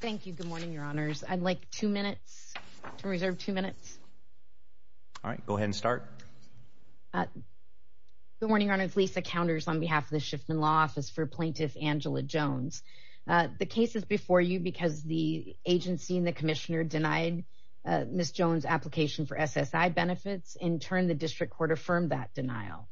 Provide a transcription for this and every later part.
Thank you. Good morning, your honors. I'd like two minutes to reserve two minutes. All right, go ahead and start. Good morning, your honors. Lisa Counters on behalf of the Shiffman Law Office for plaintiff Angela Jones. The case is before you because the agency and the commissioner denied Ms. Jones' application for SSI benefits. In turn, the district court affirmed that denial.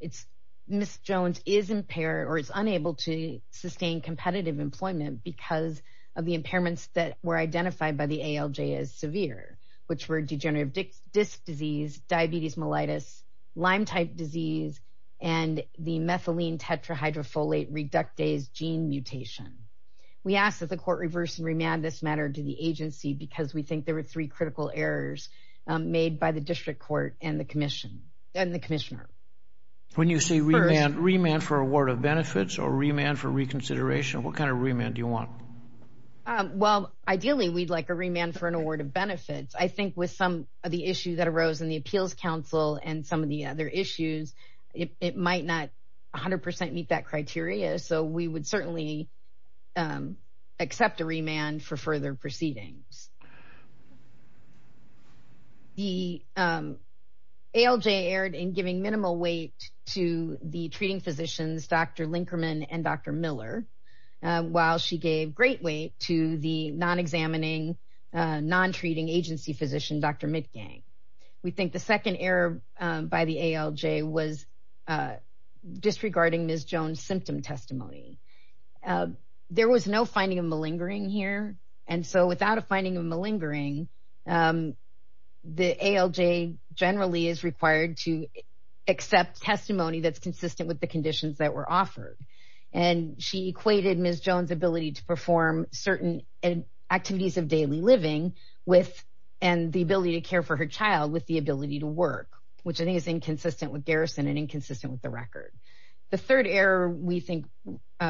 It's Ms. Jones is impaired or is unable to sustain competitive employment because of the impairments that were identified by the ALJ as severe, which were degenerative disc disease, diabetes mellitus, Lyme type disease, and the methylene tetrahydrofolate reductase gene mutation. We ask that the court reverse and remand this matter to the agency because we think there are three critical errors made by the district court and the commissioner. When you say remand for award of benefits or remand for reconsideration, what kind of remand do you want? Well, ideally, we'd like a remand for an award of benefits. I think with some of the issues that arose in the appeals council and some of the other issues, it might not 100% meet that criteria, so we would certainly accept a remand for further proceedings. The ALJ erred in giving minimal weight to the treating physicians, Dr. Linkerman and Dr. Miller, while she gave great weight to the non-examining, non-treating agency physician, Dr. Mitgang. We think the second error by the ALJ was disregarding Ms. Jones' symptom testimony. There was no finding of malingering here, and so without a finding of malingering, the ALJ generally is required to accept testimony that's consistent with the conditions that were offered, and she equated Ms. Jones' ability to perform certain activities of daily living and the ability to care for her child with the ability to work, which I think is inconsistent with Garrison and inconsistent with the record. The third error we think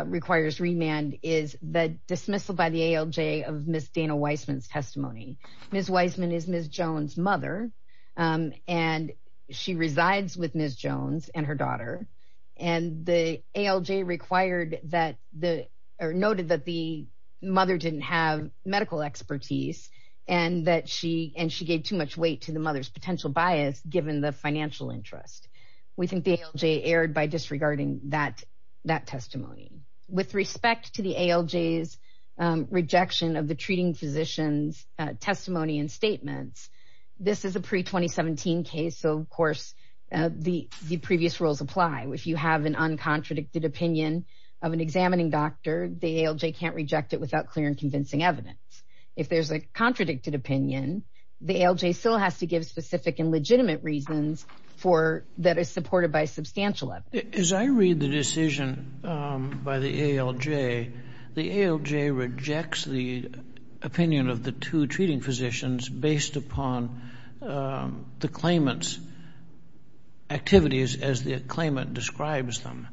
requires remand is the dismissal by the ALJ of Ms. Dana Weissman's testimony. Ms. Weissman is Ms. Jones' mother, and she resides with Ms. Jones and her daughter, and the ALJ noted that the mother didn't have medical expertise, and that she gave too much weight to the mother's potential bias, given the financial interest. We think the ALJ erred by disregarding that testimony. With respect to the ALJ's rejection of the treating physicians' testimony and statements, this is a pre-2017 case, so of course, the previous rules apply. If you have an uncontradicted opinion of an examining doctor, the ALJ can't reject it without clear and convincing evidence. If there's a contradicted opinion, the ALJ still has to give specific and legitimate reasons that are supported by substantial evidence. As I read the decision by the ALJ, the ALJ rejects the opinion of the two treating physicians based upon the claimant's description.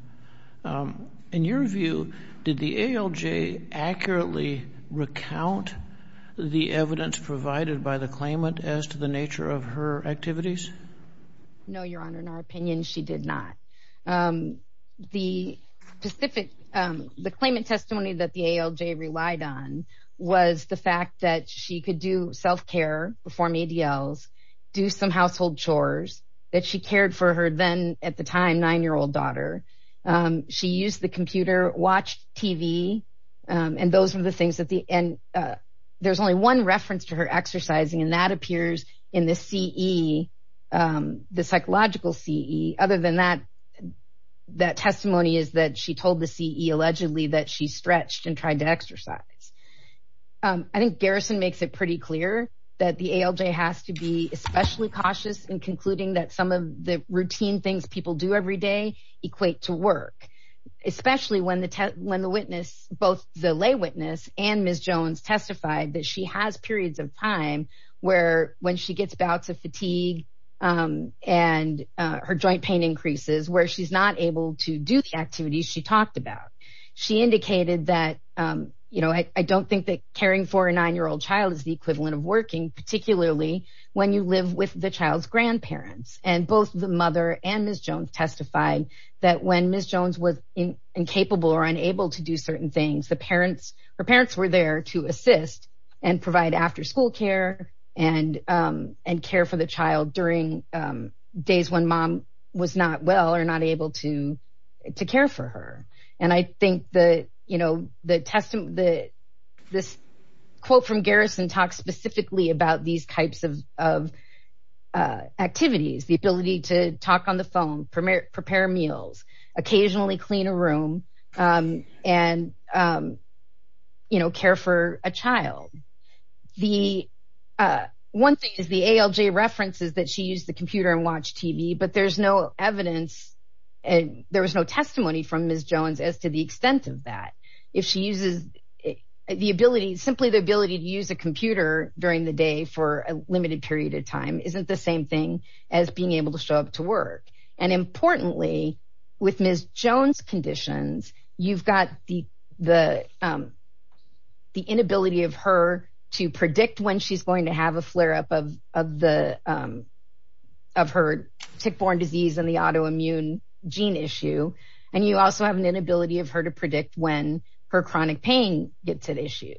In your view, did the ALJ accurately recount the evidence provided by the claimant as to the nature of her activities? No, Your Honor, in our opinion, she did not. The claimant testimony that the ALJ relied on was the fact that she could do self-care, perform ADLs, do some household chores, that she cared for her then, at the time, nine-year-old daughter. She used the computer, watched TV, and those were the things that the—and there's only one reference to her exercising, and that appears in the CE, the psychological CE. Other than that, that testimony is that she told the CE, allegedly, that she stretched and especially cautious in concluding that some of the routine things people do every day equate to work, especially when the witness, both the lay witness and Ms. Jones testified that she has periods of time where, when she gets bouts of fatigue and her joint pain increases, where she's not able to do the activities she talked about. She indicated that, you know, I don't think that caring for a nine-year-old child is the equivalent of working, particularly when you live with the child's grandparents. And both the mother and Ms. Jones testified that, when Ms. Jones was incapable or unable to do certain things, the parents—her parents were there to assist and provide after-school care and care for the child during days when mom was not well or not able to care for her. And I think that, you know, this quote from Garrison talks specifically about these types of activities, the ability to talk on the phone, prepare meals, occasionally clean a room, and, you know, care for a child. The—one thing is the ALJ references that she used the computer and watched TV, but there's no evidence and there was no testimony from Ms. Jones as to the extent of that. If she uses the ability—simply the ability to use a computer during the day for a limited period of time isn't the same thing as being able to show up to work. And importantly, with Ms. Jones' conditions, you've got the inability of her to predict when she's going to have a flare-up of the—of her tick-borne disease and the autoimmune gene issue, and you also have an inability of her to predict when her chronic pain gets at issue.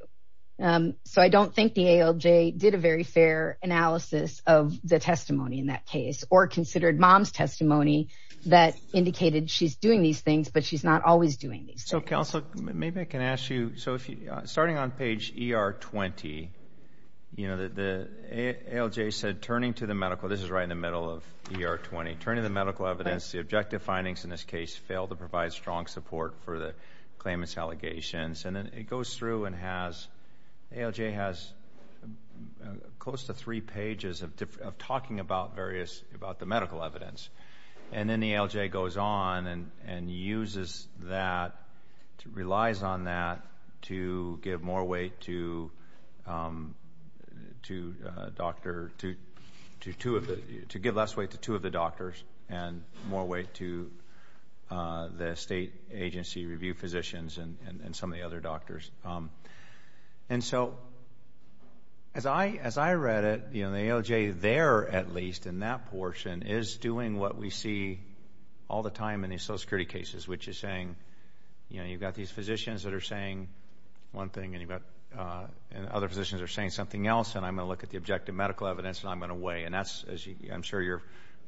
So I don't think the ALJ did a very fair analysis of the testimony in that case or considered mom's testimony that indicated she's doing these things, but she's not always doing these things. So, Counsel, maybe I can ask you—so if you—starting on page ER-20, you know, the ALJ said, turning to the medical—this is right in the middle of ER-20—turning to the medical evidence, the objective findings in this case fail to provide strong support for the claimant's allegations. And then it goes through and has—the ALJ has close to three pages of talking about various—about the medical evidence. And then the ALJ goes on and uses that, relies on that to give more weight to a doctor—to give less weight to two of the doctors and more weight to the state agency review physicians and some of the other doctors. And so, as I read it, you know, the ALJ there, at least, in that portion, is doing what we see all the time in these Social Security cases, which is saying, you know, you've got these one thing and you've got—and other physicians are saying something else and I'm going to look at the objective medical evidence and I'm going to weigh. And that's, as I'm sure you're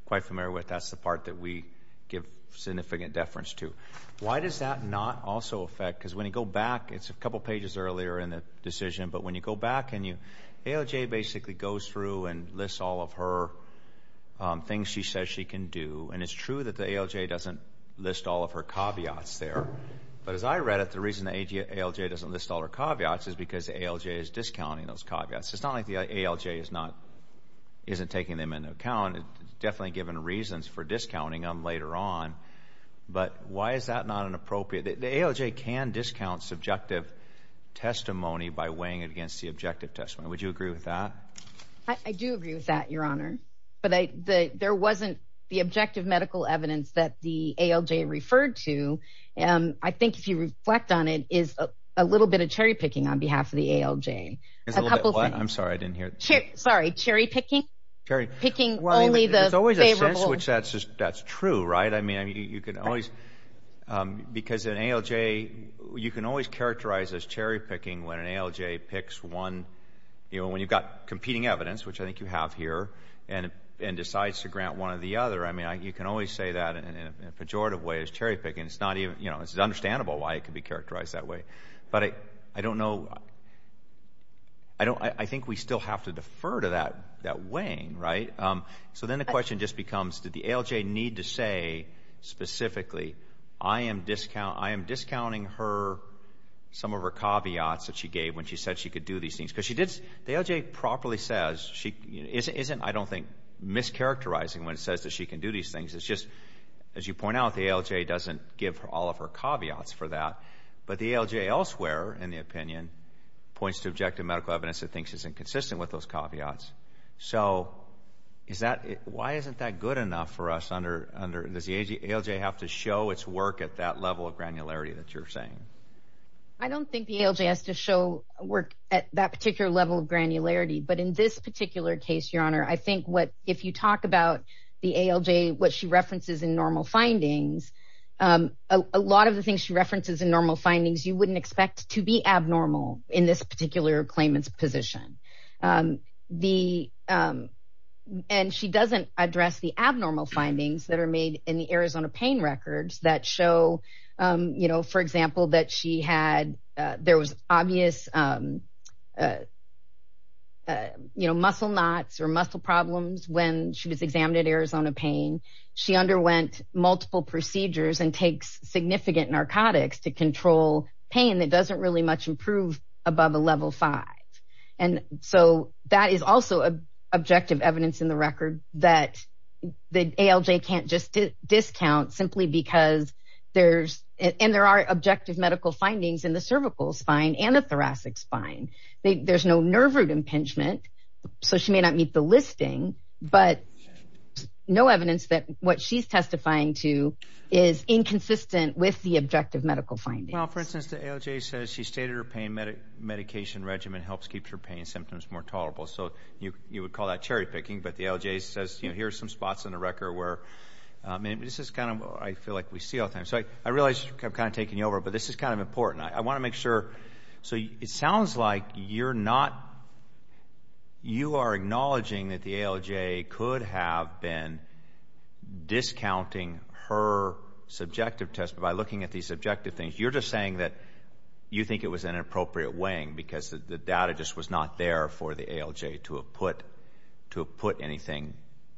quite familiar with, that's the part that we give significant deference to. Why does that not also affect—because when you go back, it's a couple pages earlier in the decision, but when you go back and you—ALJ basically goes through and lists all of her things she says she can do. And it's true that the ALJ doesn't list all of her caveats there. But as I read it, the reason ALJ doesn't list all her caveats is because ALJ is discounting those caveats. It's not like the ALJ is not—isn't taking them into account. It's definitely given reasons for discounting them later on. But why is that not an appropriate—the ALJ can discount subjective testimony by weighing it against the objective testimony. Would you agree with that? I do agree with that, Your Honor. But there wasn't the objective medical evidence that the ALJ referred to. I think if you reflect on it, it's a little bit of cherry-picking on behalf of the ALJ. A couple things. I'm sorry, I didn't hear. Sorry, cherry-picking? Picking only the favorable— It's always a sense which that's true, right? I mean, you can always—because an ALJ—you can always characterize as cherry-picking when an ALJ picks one—you know, when you've got competing evidence, which I think you have here, and decides to grant one or the other. I mean, you can always say that in a pejorative way as cherry-picking. It's understandable why it can be characterized that way. But I don't know—I think we still have to defer to that weighing, right? So then the question just becomes, did the ALJ need to say specifically, I am discounting her—some of her caveats that she gave when she said she could do these things? Because the ALJ properly says—isn't, I don't think, mischaracterizing when it says that she can do these things. It's just, as you point out, the ALJ doesn't give all of her caveats for that. But the ALJ elsewhere, in the opinion, points to objective medical evidence that thinks is inconsistent with those caveats. So is that—why isn't that good enough for us under—does the ALJ have to show its work at that level of granularity that you're saying? I don't think the ALJ has to show work at that particular level of granularity. But in this what she references in normal findings, a lot of the things she references in normal findings, you wouldn't expect to be abnormal in this particular claimant's position. And she doesn't address the abnormal findings that are made in the Arizona pain records that show, you know, for example, that she had—there was obvious muscle knots or muscle problems when she was examined at Arizona pain. She underwent multiple procedures and takes significant narcotics to control pain that doesn't really much improve above a level five. And so that is also objective evidence in the record that the ALJ can't just discount simply because there's—and there are objective medical findings in the cervical spine and the thoracic spine. There's no nerve root impingement, so she may not meet the listing, but no evidence that what she's testifying to is inconsistent with the objective medical findings. Well, for instance, the ALJ says she stated her pain medication regimen helps keep her pain symptoms more tolerable. So you would call that cherry-picking, but the ALJ says, you know, here's some spots in the record where—I mean, this is kind of—I feel like we see all the time. So I realize I'm kind of taking you over, but this is kind of important. I want to make sure—so it sounds like you're not—you are acknowledging that the ALJ could have been discounting her subjective test, but by looking at these objective things, you're just saying that you think it was an inappropriate weighing because the data just was not there for the ALJ to have put anything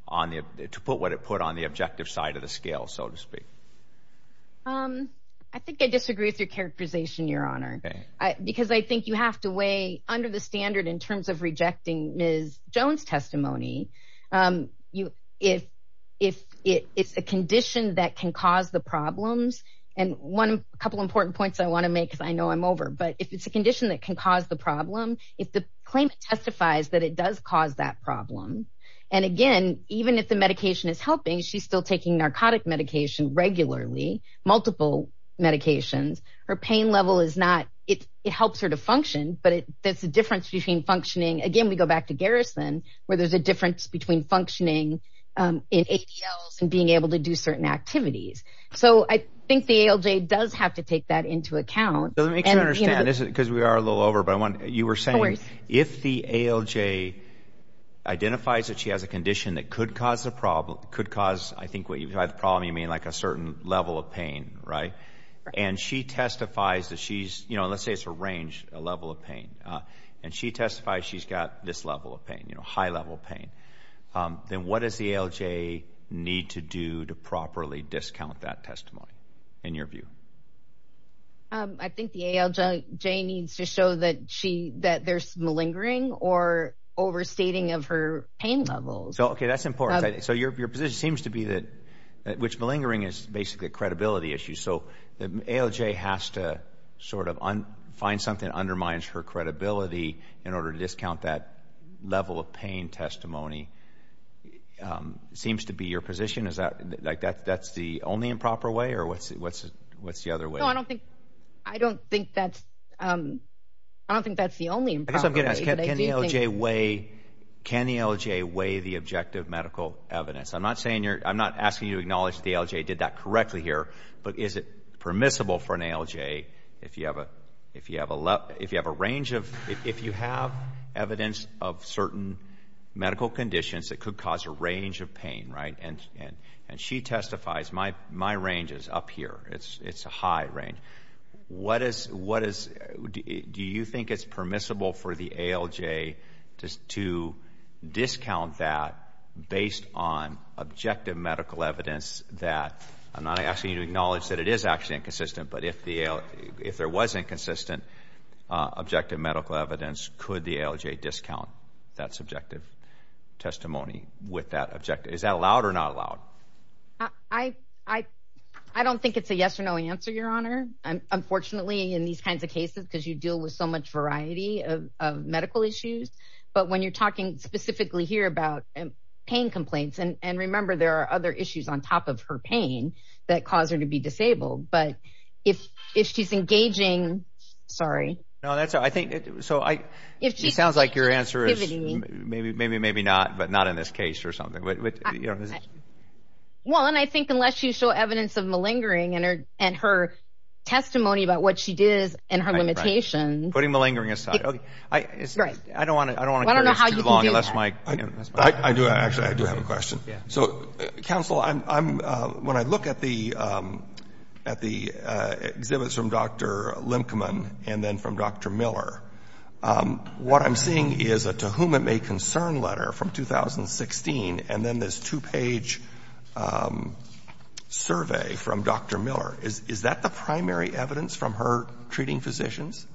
on the—to put what it put on the objective side of the scale, so to speak. I think I disagree with your characterization, Your Honor, because I think you have to weigh under the standard in terms of rejecting Ms. Jones' testimony. If it's a condition that can cause the problems—and a couple important points I want to make because I know I'm over, but if it's a condition that can cause the problem, if the claimant testifies that it does cause that problem, and again, even if the medication is helping, she's still taking narcotic medication regularly, multiple medications. Her pain level is not—it helps her to function, but there's a difference between functioning—again, we go back to Garrison, where there's a difference between functioning in ADLs and being able to do certain activities. So I think the ALJ does have to take that into account. Let me make sure I understand, because we are a little over, but you were saying if the ALJ identifies that she has a condition that could cause the problem—could cause, I think, by the problem you mean like a certain level of pain, right? And she testifies that she's—you know, let's say it's a range, a level of pain, and she testifies she's got this level of pain, you know, high-level pain. Then what does the ALJ need to do to properly discount that testimony, in your view? I think the ALJ needs to show that there's malingering or overstating of pain levels. Okay, that's important. So your position seems to be that—which malingering is basically a credibility issue. So the ALJ has to sort of find something that undermines her credibility in order to discount that level of pain testimony. It seems to be your position, is that—like that's the only improper way, or what's the other way? No, I don't think that's the only improper way. I guess I'm going to ask, can the ALJ weigh the objective medical evidence? I'm not saying you're—I'm not asking you to acknowledge the ALJ did that correctly here, but is it permissible for an ALJ if you have a range of—if you have evidence of certain medical conditions that could cause a range of pain, right? And she testifies, my range is up here. It's a high range. What is—do you think it's permissible for the ALJ to discount that based on objective medical evidence that—I'm not asking you to acknowledge that it is actually inconsistent, but if there was inconsistent objective medical evidence, could the ALJ discount that subjective testimony with that objective—is that allowed or not allowed? I don't think it's a yes or no answer, Your Honor. Unfortunately, in these kinds of cases, because you deal with so much variety of medical issues, but when you're talking specifically here about pain complaints, and remember there are other issues on top of her pain that cause her to be disabled, but if she's engaging—sorry. No, that's—I think—so I—it sounds like your but not in this case or something. Well, and I think unless you show evidence of malingering and her testimony about what she did and her limitations— Putting malingering aside. I don't want to—I don't want to—I don't know how you can do that. I do, actually. I do have a question. So, counsel, I'm—when I look at the exhibits from Dr. Limkeman and then from Dr. Miller, what I'm seeing is a to whom it may concern letter from 2016 and then this two-page survey from Dr. Miller. Is that the primary evidence from her treating physicians?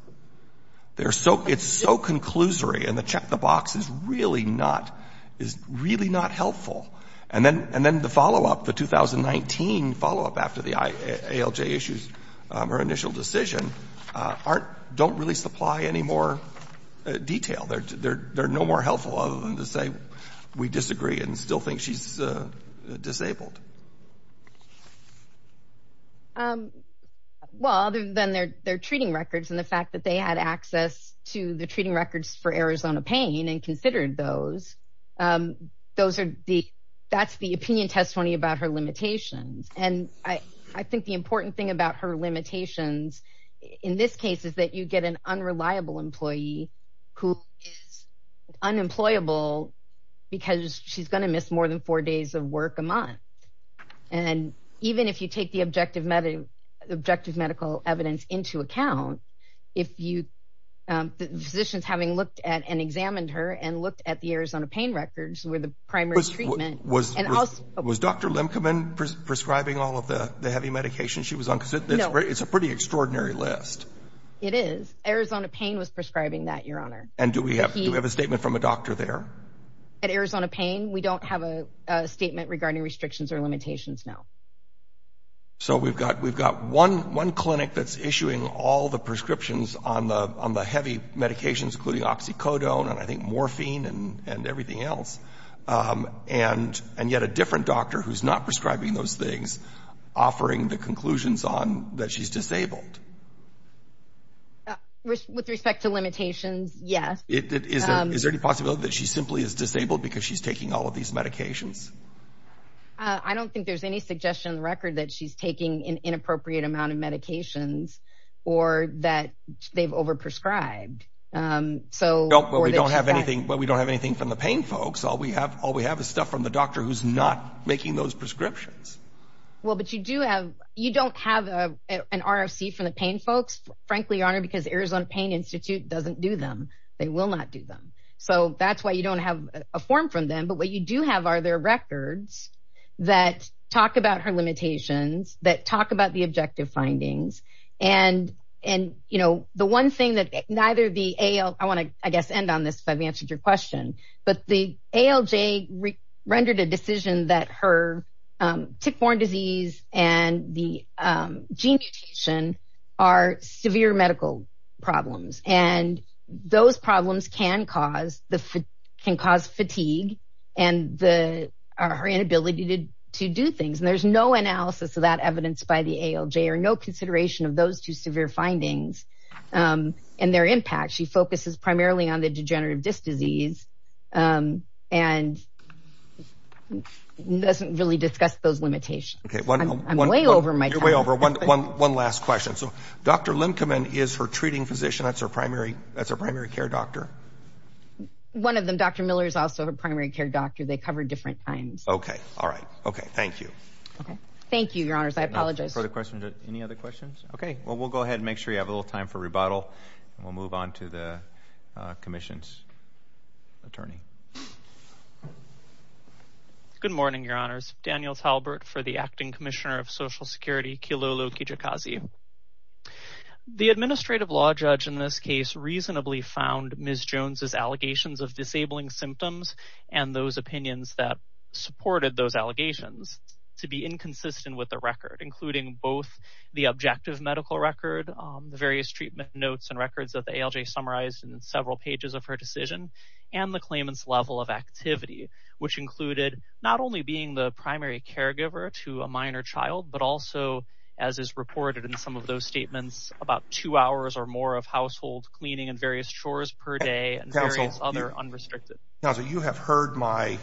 They're so—it's so conclusory, and the check the box is really not—is really not helpful. And then—and then the follow-up, the 2019 follow-up after the ALJ issues, her initial decision, aren't—don't really supply any more detail. They're no more helpful other than to say we disagree and still think she's disabled. Well, other than their—their treating records and the fact that they had access to the treating records for Arizona pain and considered those, those are the—that's the opinion testimony about her limitations. And I—I think the important thing about her limitations in this case is that you get an unreliable employee who is unemployable because she's going to miss more than four days of work a month. And even if you take the objective medical—objective medical evidence into account, if you—the physicians having looked at and examined her and looked at the Arizona pain records were the primary treatment. Was—was Dr. Limkeman prescribing all of the heavy medication she was on? No. It's a pretty extraordinary list. It is. Arizona pain was prescribing that, Your Honor. And do we have—do we have a statement from a doctor there? At Arizona pain, we don't have a statement regarding restrictions or limitations now. So we've got—we've got one—one clinic that's issuing all the prescriptions on the—on the heavy medications, including oxycodone and I think morphine and—and everything else. And—and yet a different doctor who's not prescribing those things offering the conclusions on that she's disabled. With respect to limitations, yes. It—is there—is there any possibility that she simply is disabled because she's taking all of these medications? I don't think there's any suggestion in the record that she's taking an inappropriate amount of medications or that they've overprescribed. So— No, but we don't have anything—but we don't have anything from the pain folks. All we have—all we have is stuff from the doctor who's not making those prescriptions. Well, but you do have—you don't have an RFC from the pain folks, frankly, Your Honor, because Arizona Pain Institute doesn't do them. They will not do them. So that's why you don't have a form from them. But what you do have are their records that talk about her limitations, that talk about the objective findings. And—and, you know, the one thing that neither the AL—I want to, I guess, end on this if I've and the gene mutation are severe medical problems. And those problems can cause the—can cause fatigue and the—her inability to do things. And there's no analysis of that evidence by the ALJ or no consideration of those two severe findings and their impact. She focuses primarily on the degenerative disc disease and doesn't really discuss those limitations. I'm way over my time. You're way over. One last question. So Dr. Lincoln is her treating physician? That's her primary— that's her primary care doctor? One of them. Dr. Miller is also her primary care doctor. They cover different times. Okay. All right. Okay. Thank you. Thank you, Your Honors. I apologize. Further questions? Any other questions? Okay. Well, we'll go ahead and make sure you have a little time for rebuttal. And we'll move on to the commission's attorney. Good morning, Your Honors. Daniel Talbert for the Acting Commissioner of Social Security, Kilolo Kijikazi. The administrative law judge in this case reasonably found Ms. Jones's allegations of disabling symptoms and those opinions that supported those allegations to be inconsistent with the record, including both the objective medical record, the various treatment notes and records that the ALJ summarized in several pages of her decision, and the claimant's own level of activity, which included not only being the primary caregiver to a minor child, but also, as is reported in some of those statements, about two hours or more of household cleaning and various chores per day and various other unrestricted— Counsel, you have heard my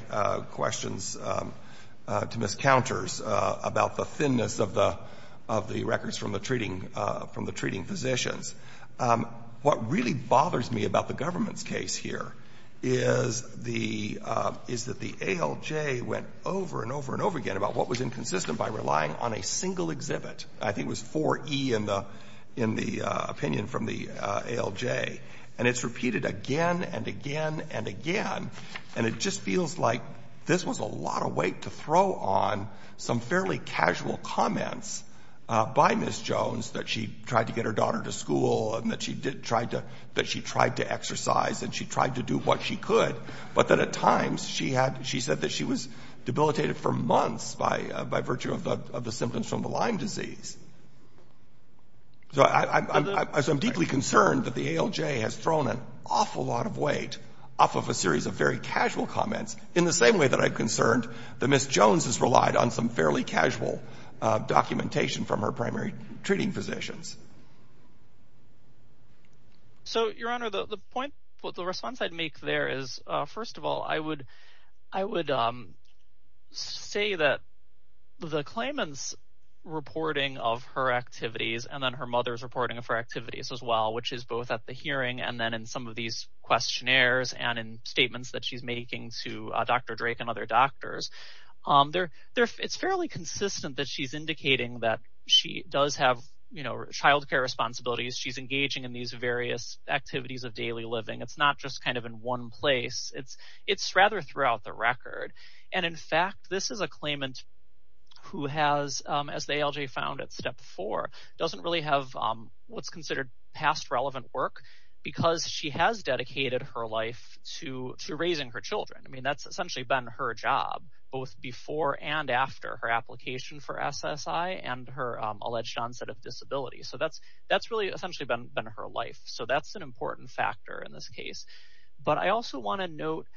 questions to Ms. Counters about the thinness of the records from the treating physicians. What really bothers me about the government's case here is that the ALJ went over and over and over again about what was inconsistent by relying on a single exhibit. I think it was 4E in the opinion from the ALJ. And it's repeated again and again and again. And it just feels like this was a lot of weight to throw on some fairly casual comments by Ms. Jones that she tried to get her daughter to school and that she tried to exercise and she tried to do what she could, but that at times she had—she said that she was debilitated for months by virtue of the symptoms from Lyme disease. So I'm deeply concerned that the ALJ has thrown an awful lot of weight off of a series of very casual comments in the same way that I'm concerned that Ms. Jones has relied on some fairly casual documentation from her primary treating physicians. So, Your Honor, the response I'd make there is, first of all, I would say that the claimant's reporting of her activities and then her mother's reporting of her activities as well, which is both at the hearing and then in some of these questionnaires and in statements that she's making to Dr. Drake and other doctors, it's fairly consistent that she's indicating that she does have childcare responsibilities. She's engaging in these various activities of daily living. It's not just kind of in one place. It's rather throughout the record. And in fact, this is a claimant who has, as the ALJ found at step four, doesn't really have what's considered past relevant work because she has dedicated her life to raising her children. I mean, essentially been her job both before and after her application for SSI and her alleged onset of disability. So that's really essentially been her life. So that's an important factor in this case. But I also want to note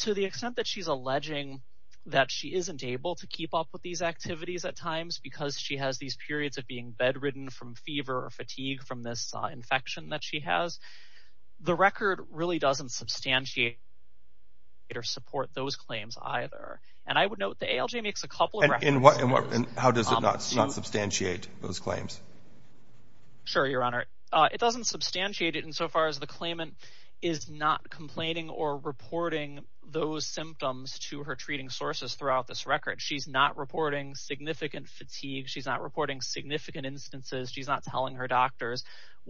to the extent that she's alleging that she isn't able to keep up with these activities at times because she has these periods of being bedridden from fever or fatigue from this infection that she has. The record really doesn't substantiate or support those claims either. And I would note the ALJ makes a couple of... And how does it not substantiate those claims? Sure, your honor. It doesn't substantiate it insofar as the claimant is not complaining or reporting those symptoms to her treating sources throughout this record. She's not reporting significant fatigue. She's not reporting significant instances. She's not telling her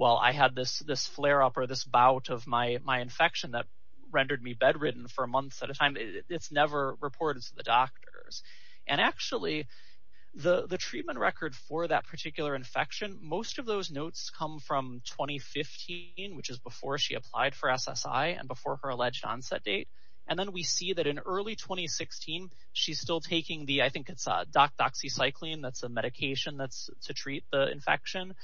I had this flare up or this bout of my infection that rendered me bedridden for months at a time. It's never reported to the doctors. And actually, the treatment record for that particular infection, most of those notes come from 2015, which is before she applied for SSI and before her alleged onset date. And then we see that in early 2016, she's still taking the... I think it's doxycycline. That's a medication that's to treat the infection.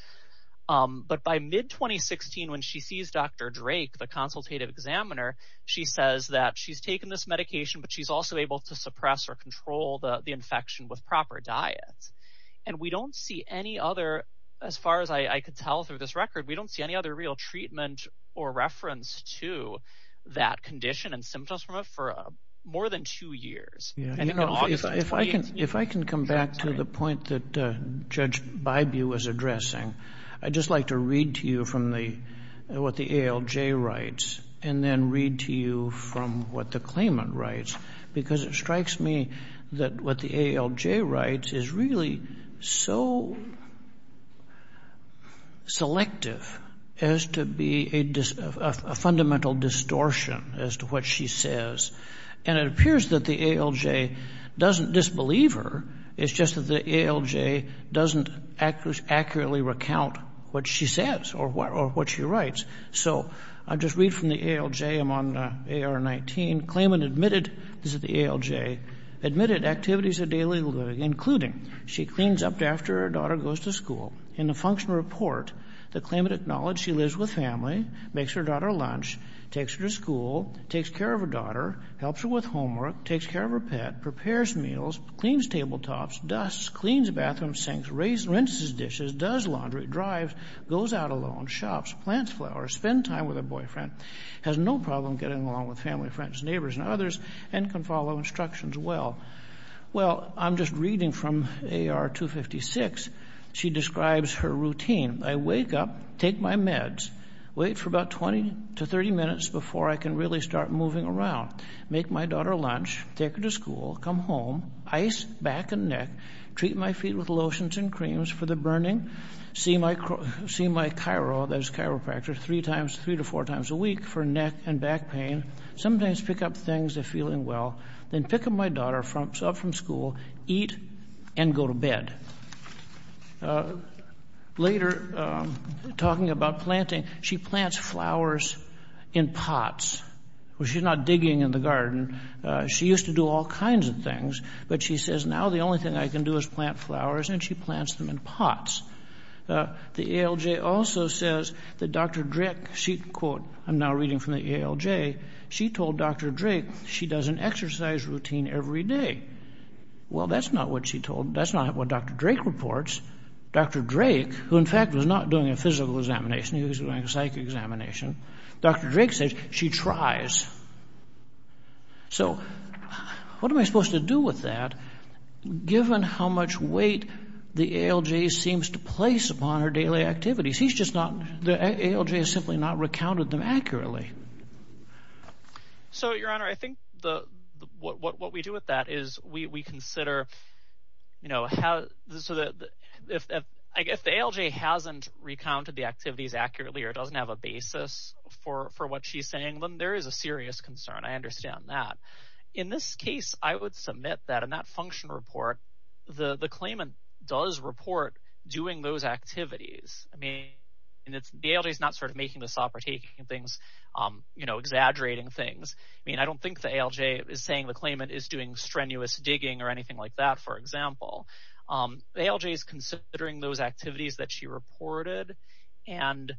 But by mid-2016, when she sees Dr. Drake, the consultative examiner, she says that she's taken this medication, but she's also able to suppress or control the infection with proper diets. And we don't see any other, as far as I could tell through this record, we don't see any other real treatment or reference to that condition and symptoms from it for more than two years. Yeah. You know, if I can come back to the point that Judge Bybu was addressing, I'd just like to read to you from what the ALJ writes and then read to you from what the claimant writes, because it strikes me that what the ALJ writes is really so selective as to be a fundamental distortion as to what she says. And it appears that the ALJ doesn't disbelieve her. It's just that the ALJ doesn't accurately recount what she says or what she writes. So I'll just read from the ALJ. I'm on AR-19. Claimant admitted, this is the ALJ, admitted activities of daily living, including she cleans up after her daughter goes to school. In the functional report, the claimant acknowledged she lives with family, makes her daughter lunch, takes her to school, takes care of her daughter, helps her with homework, takes care of her pet, prepares meals, cleans tabletops, dusts, cleans bathrooms, sinks, rinses dishes, does laundry, drives, goes out alone, shops, plants flowers, spend time with her boyfriend, has no problem getting along with family, friends, neighbors, and others, and can follow instructions well. Well, I'm just reading from AR-256. She describes her routine. I wake up, take my meds, wait for about 20 to 30 minutes before I can really start moving around, make my daughter lunch, take her to school, come home, ice back and neck, treat my feet with lotions and creams for the burning, see my chiro, that is chiropractor, three times, three to four times a week for neck and back pain, sometimes pick up things if feeling well, then pick up my daughter up from school, eat, and go to bed. Later, talking about planting, she plants flowers in pots. Well, she's not digging in the garden. She used to do all kinds of things, but she says, now the only thing I can do is plant flowers, and she plants them in pots. The ALJ also says that Dr. Drake, she, quote, I'm now reading from the ALJ, she told Dr. Drake she does an exercise routine every day. Well, that's not what she told, that's not what Dr. Drake reports. Dr. Drake, who in fact was not doing a physical examination, he was doing a psych examination, Dr. Drake says she tries. So, what am I supposed to do with that, given how much weight the ALJ seems to place upon her daily activities? He's just not, the ALJ has simply not recounted them accurately. So, Your Honor, I think the, what we do with that is we consider, you know, how, so that, if the ALJ hasn't recounted the activities accurately or doesn't have a basis for what she's saying, then there is a serious concern. I understand that. In this case, I would submit that that function report, the claimant does report doing those activities. I mean, the ALJ is not sort of making this up or taking things, you know, exaggerating things. I mean, I don't think the ALJ is saying the claimant is doing strenuous digging or anything like that, for example. The ALJ is considering those activities that she reported, and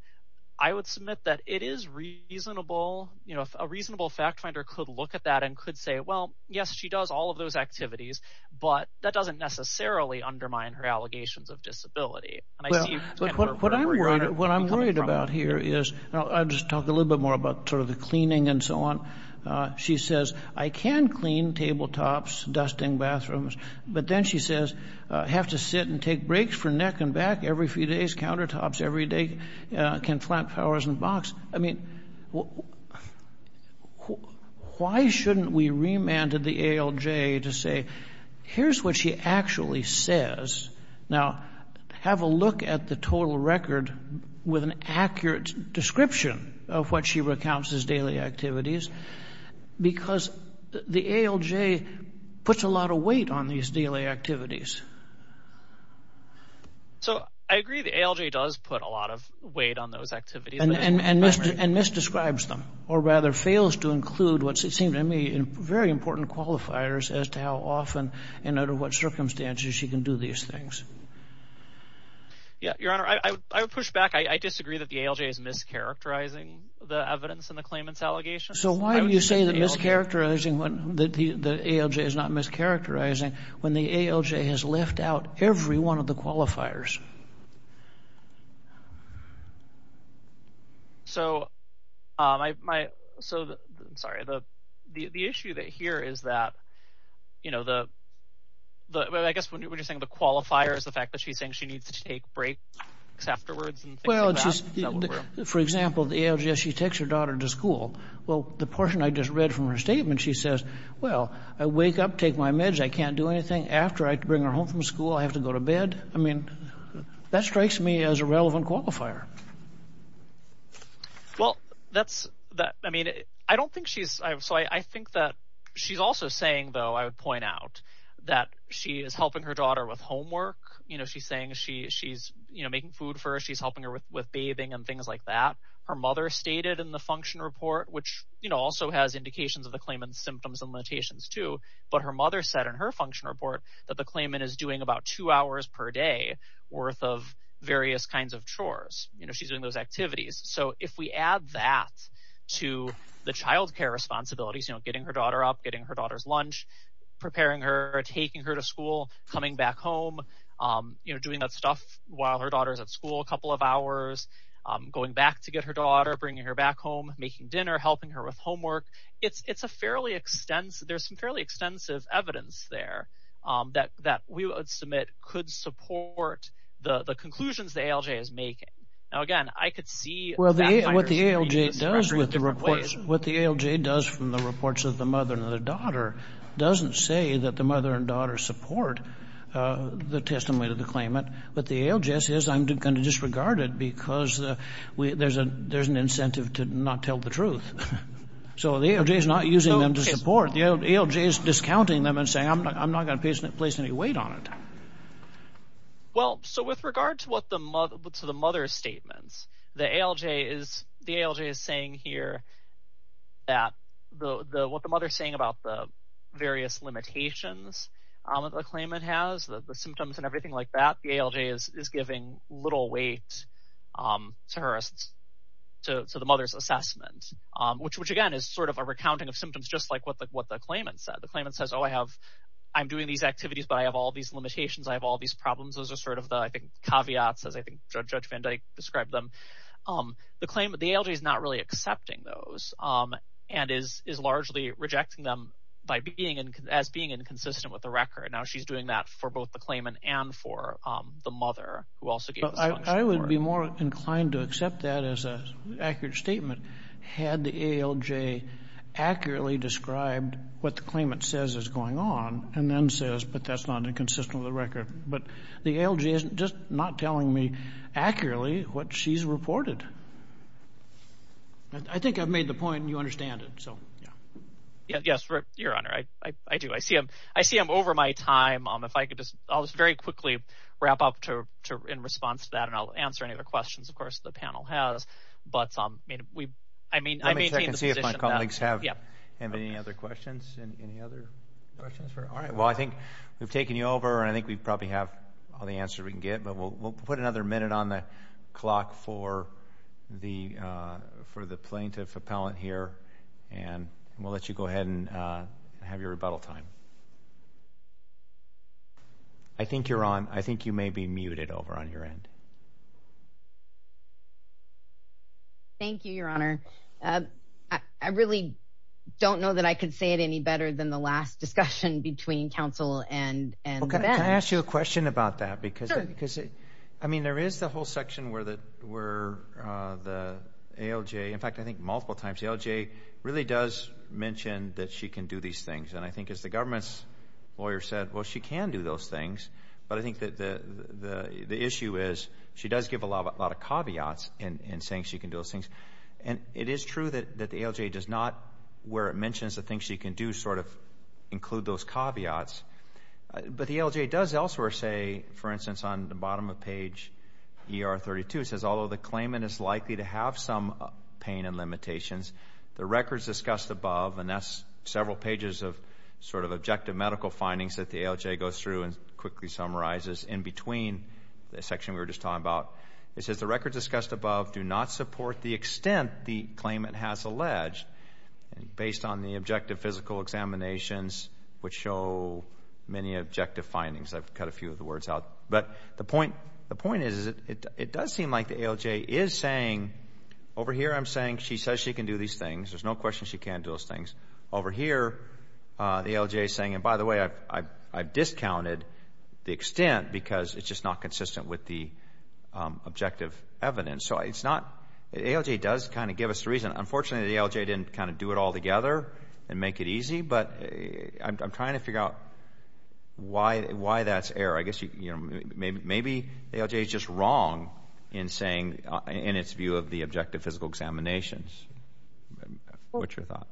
I would submit that it is reasonable, you know, a reasonable fact finder could look at that and could say, well, yes, she does all of those activities, but that doesn't necessarily undermine her allegations of disability. What I'm worried about here is, I'll just talk a little bit more about sort of the cleaning and so on. She says, I can clean tabletops, dusting bathrooms, but then she says, have to sit and take breaks for neck and back every few days, countertops every day, can flat towers and box. I mean, why shouldn't we remanded the ALJ to say, here's what she actually says. Now, have a look at the total record with an accurate description of what she recounts as daily activities, because the ALJ puts a lot of weight on these daily activities. So, I agree the ALJ does put a lot of weight on those activities. And misdescribes them, or rather fails to include what seems to me very important qualifiers as to how often and under what circumstances she can do these things. Yeah, Your Honor, I would push back. I disagree that the ALJ is mischaracterizing the evidence in the claimant's allegations. So, why do you say that mischaracterizing, that the ALJ is not mischaracterizing when the ALJ has left out every one of the qualifiers? So, the issue that here is that, you know, I guess when you're saying the qualifiers, the fact that she's saying she needs to take breaks afterwards. Well, just for example, the ALJ, she takes her daughter to school. Well, the portion I just read from her statement, she says, well, I wake up, take my meds, I can't do anything. After I bring her home from school, I have to go to bed. I mean, that strikes me as a relevant qualifier. Well, that's that. I mean, I don't think she's. So, I think that she's also saying, though, I would point out that she is helping her daughter with homework. You know, she's saying she's, you know, making food for her. She's helping her with bathing and things like that. Her mother stated in the function report, which, you know, also has indications of the claimant's symptoms and limitations, too. But her mother said in her function report that the claimant is doing about two hours per day worth of various kinds of chores. You know, she's doing those activities. So, if we add that to the child care responsibilities, you know, getting her daughter up, getting her daughter's lunch, preparing her, taking her to school, coming back home, you know, doing that stuff while her daughter's at school, a couple of hours, going back to get her daughter, bringing her back home, making dinner, helping her with homework. It's a fairly extensive, there's some fairly extensive evidence there that we would submit could support the conclusions the ALJ is making. Now, again, I could see. Well, what the ALJ does with the reports, what the ALJ does from the reports of the mother and daughter support the testimony of the claimant, but the ALJ says, I'm going to disregard it because there's an incentive to not tell the truth. So, the ALJ is not using them to support. The ALJ is discounting them and saying, I'm not going to place any weight on it. Well, so, with regard to the mother's statements, the ALJ is saying here that what the mother's saying about the various limitations that the claimant has, the symptoms and everything like that, the ALJ is giving little weight to her, to the mother's assessment, which, again, is sort of a recounting of symptoms, just like what the claimant said. The claimant says, oh, I have, I'm doing these activities, but I have all these limitations. I have all these problems. Those are sort of the, I think, caveats, as I think Judge Van Dyke described them. The claimant, the ALJ is not really accepting those and is largely rejecting them by being, as being inconsistent with the record. Now, she's doing that for both the claimant and for the mother who also gave the testimony. I would be more inclined to accept that as an accurate statement, had the ALJ accurately described what the claimant says is going on and then says, but that's not inconsistent with the record. But the ALJ isn't just not telling me accurately what she's reported. I think I've made the point and you understand it, so, yeah. Yes, Your Honor, I do. I see him over my time. If I could just, I'll just very quickly wrap up to, in response to that, and I'll answer any other questions, of course, the panel has, but we, I mean, I maintain the position that, yeah. Let me check and see if my colleagues have any other questions, any other questions for, all right. Well, I think we've taken you over and I think we probably have all the answers we can get, but we'll put another minute on the clock for the plaintiff appellant here, and we'll let you go ahead and have your rebuttal time. I think you're on. I think you may be muted over on your end. Thank you, Your Honor. I really don't know that I could say it any better than the last discussion between counsel and Ben. Well, can I ask you a question about that? Sure. Because, I mean, there is the whole section where the ALJ, in fact, I think multiple times, the ALJ really does mention that she can do these things, and I think as the government's lawyer said, well, she can do those things, but I think that the issue is she does give a lot of caveats in saying she can do those things, and it is true that the ALJ does not, where it mentions the things she can do, sort of include those caveats, but the ALJ does elsewhere say, for instance, on the bottom of page ER 32, it says, although the claimant is likely to have some pain and limitations, the records discussed above, and that's several pages of sort of objective medical findings that the ALJ goes through and quickly summarizes in between the section we were just talking about, it says the records discussed above do not support the extent the claimant has alleged, based on the objective physical examinations, which show many objective findings. I've cut a few of the words out, but the point is, it does seem like the ALJ is saying, over here, I'm saying she says she can do these things. There's no question she can do those things. Over here, the ALJ is saying, and by the way, I've discounted the extent because it's just not consistent with the objective evidence. So, it's not, the ALJ does kind of give us the reason. Unfortunately, the ALJ didn't kind of do it all together and make it easy, but I'm trying to figure out why that's error. I guess, you know, maybe the ALJ is just wrong in saying, in its view of the objective physical examinations. What's your thought?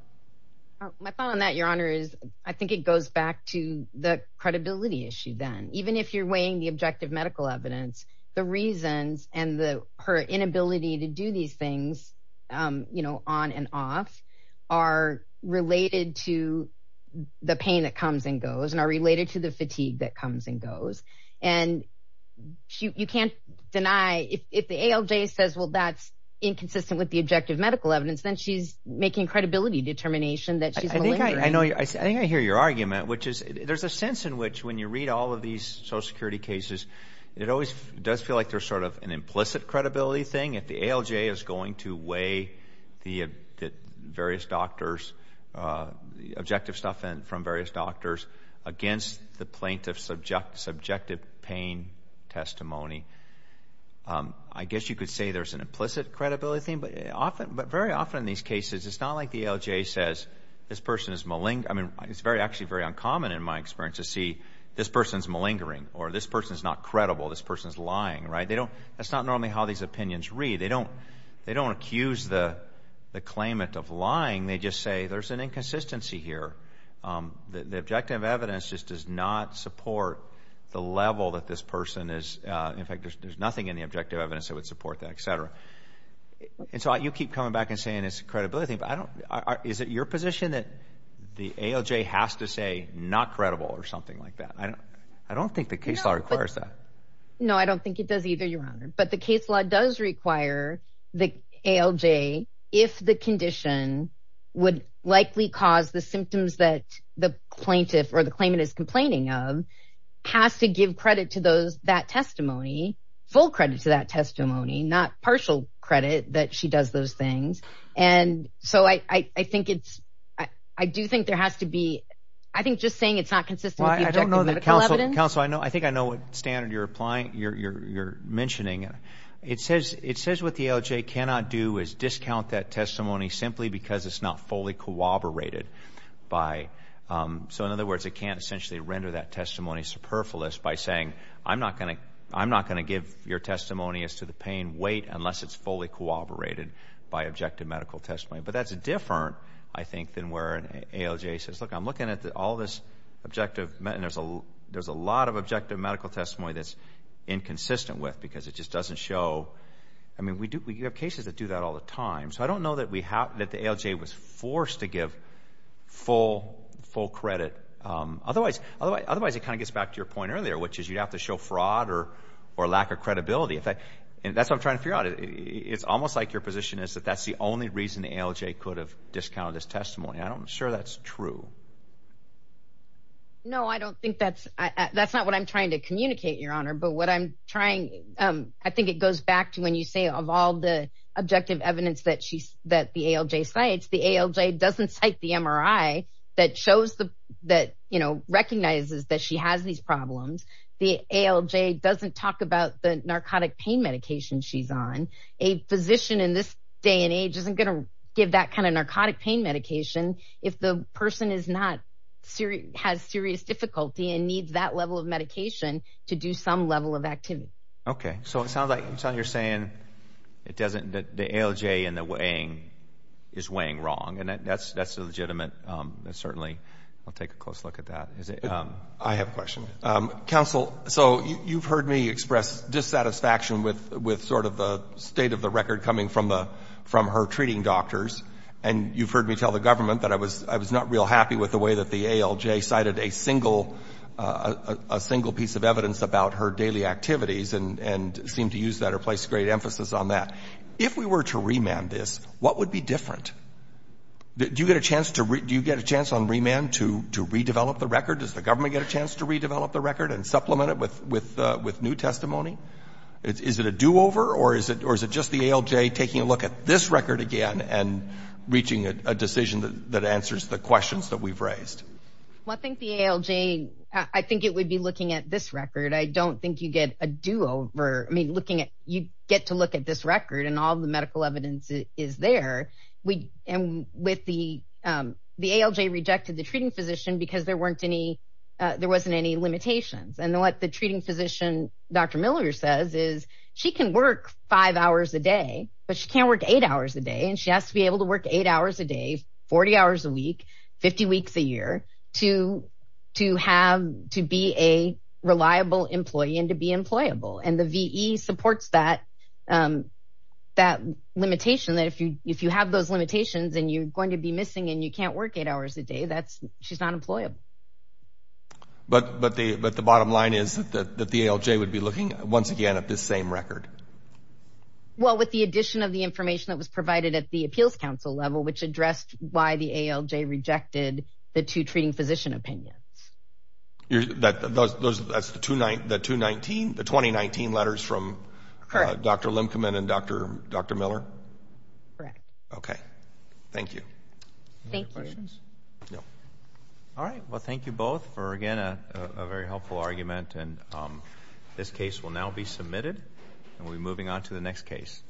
My thought on that, Your Honor, is I think it goes back to the credibility issue then. Even if you're weighing the objective medical evidence, the reasons and her inability to do these things, you know, on and off, are related to the pain that comes and goes, and are related to the fatigue that comes and goes. And you can't deny, if the ALJ says, well, that's inconsistent with the objective medical evidence, then she's making credibility determination that she's malingering. I think I hear your argument, which is, there's a sense in which, when you read all of these social security cases, it always does feel like there's sort of an implicit credibility thing. If the ALJ is going to weigh the various doctors, the objective stuff from various doctors against the plaintiff's subjective pain testimony, I guess you could say there's an implicit credibility thing. But very often in these cases, it's not like the ALJ says, this person is malingering, or this person is not credible, this person is lying, right? That's not normally how these opinions read. They don't accuse the claimant of lying, they just say there's an inconsistency here. The objective evidence just does not support the level that this person is, in fact, there's nothing in the objective evidence that would support that, et cetera. And so you keep coming back and saying it's a credibility thing, but is it your position that the ALJ has to say, not credible or something like that? I don't think the case law requires that. No, I don't think it does either, Your Honor. But the case law does require the ALJ, if the condition would likely cause the symptoms that the plaintiff or the claimant is complaining of, has to give credit to that testimony, full credit to that testimony, not partial credit that she does those things. And so I think it's, I do think there has to be, I think just saying it's not consistent with the objective medical evidence. Counsel, I think I know what standard you're mentioning. It says what the ALJ cannot do is discount that testimony simply because it's not fully corroborated by, so in other words, it can't essentially render that testimony superfluous by saying, I'm not going to give your testimony as to the pain, wait unless it's fully corroborated by objective medical testimony. But that's different, I think, than where an ALJ says, look, I'm looking at all this objective, and there's a lot of objective medical testimony that's inconsistent with because it just doesn't show. I mean, we have cases that do that all the time. So I don't know that the ALJ was forced to give full credit. Otherwise, it kind of gets back to your point earlier, which is you'd show fraud or lack of credibility. And that's what I'm trying to figure out. It's almost like your position is that that's the only reason the ALJ could have discounted this testimony. I'm sure that's true. No, I don't think that's, that's not what I'm trying to communicate, Your Honor. But what I'm trying, I think it goes back to when you say of all the objective evidence that the ALJ cites, the ALJ doesn't cite the MRI that shows the, that, you know, recognizes that she has these problems. The ALJ doesn't talk about the narcotic pain medication she's on. A physician in this day and age isn't going to give that kind of narcotic pain medication if the person is not serious, has serious difficulty and needs that level of medication to do some level of activity. Okay, so it sounds like you're saying it doesn't, the ALJ and the weighing is weighing wrong. And that's, that's legitimate. Certainly, I'll take a close look at that. I have a question. Counsel, so you've heard me express dissatisfaction with, with sort of the state of the record coming from the, from her treating doctors. And you've heard me tell the government that I was, I was not real happy with the way that the ALJ cited a single, a single piece of evidence about her daily activities and, and seemed to use that or place great emphasis on that. If we were to remand this, what would be different? Do you get a chance to, do you get a chance on remand to, to redevelop the record? Does the government get a chance to redevelop the record and supplement it with, with, with new testimony? Is it a do-over or is it, or is it just the ALJ taking a look at this record again and reaching a decision that answers the questions that we've raised? Well, I think the ALJ, I think it would be looking at this record. I don't think you get a do-over. I mean, looking at, you get to look at this record and all the medical evidence is there. We, and with the, the ALJ rejected the treating physician because there weren't any, there wasn't any limitations. And then what the treating physician, Dr. Miller says is, she can work five hours a day, but she can't work eight hours a day. And she has to be able to work eight hours a day, 40 hours a week, 50 weeks a year to, to have, to be a reliable employee and to be employable. And the VE supports that, that limitation that if you, if you have those limitations and you're going to be missing and you can't work eight hours a day, that's, she's not employable. But, but the, but the bottom line is that the, that the ALJ would be looking once again at this same record. Well, with the addition of the information that was provided at the appeals council level, which addressed why the ALJ rejected the two treating physician opinions. You're that, those, those, that's the two nine, the two 19, the 2019 letters from Dr. Limcoman and Dr. Dr. Miller. Correct. Okay. Thank you. Any other questions? No. All right. Well, thank you both for, again, a very helpful argument. And this case will now be submitted and we'll be moving on to the next case.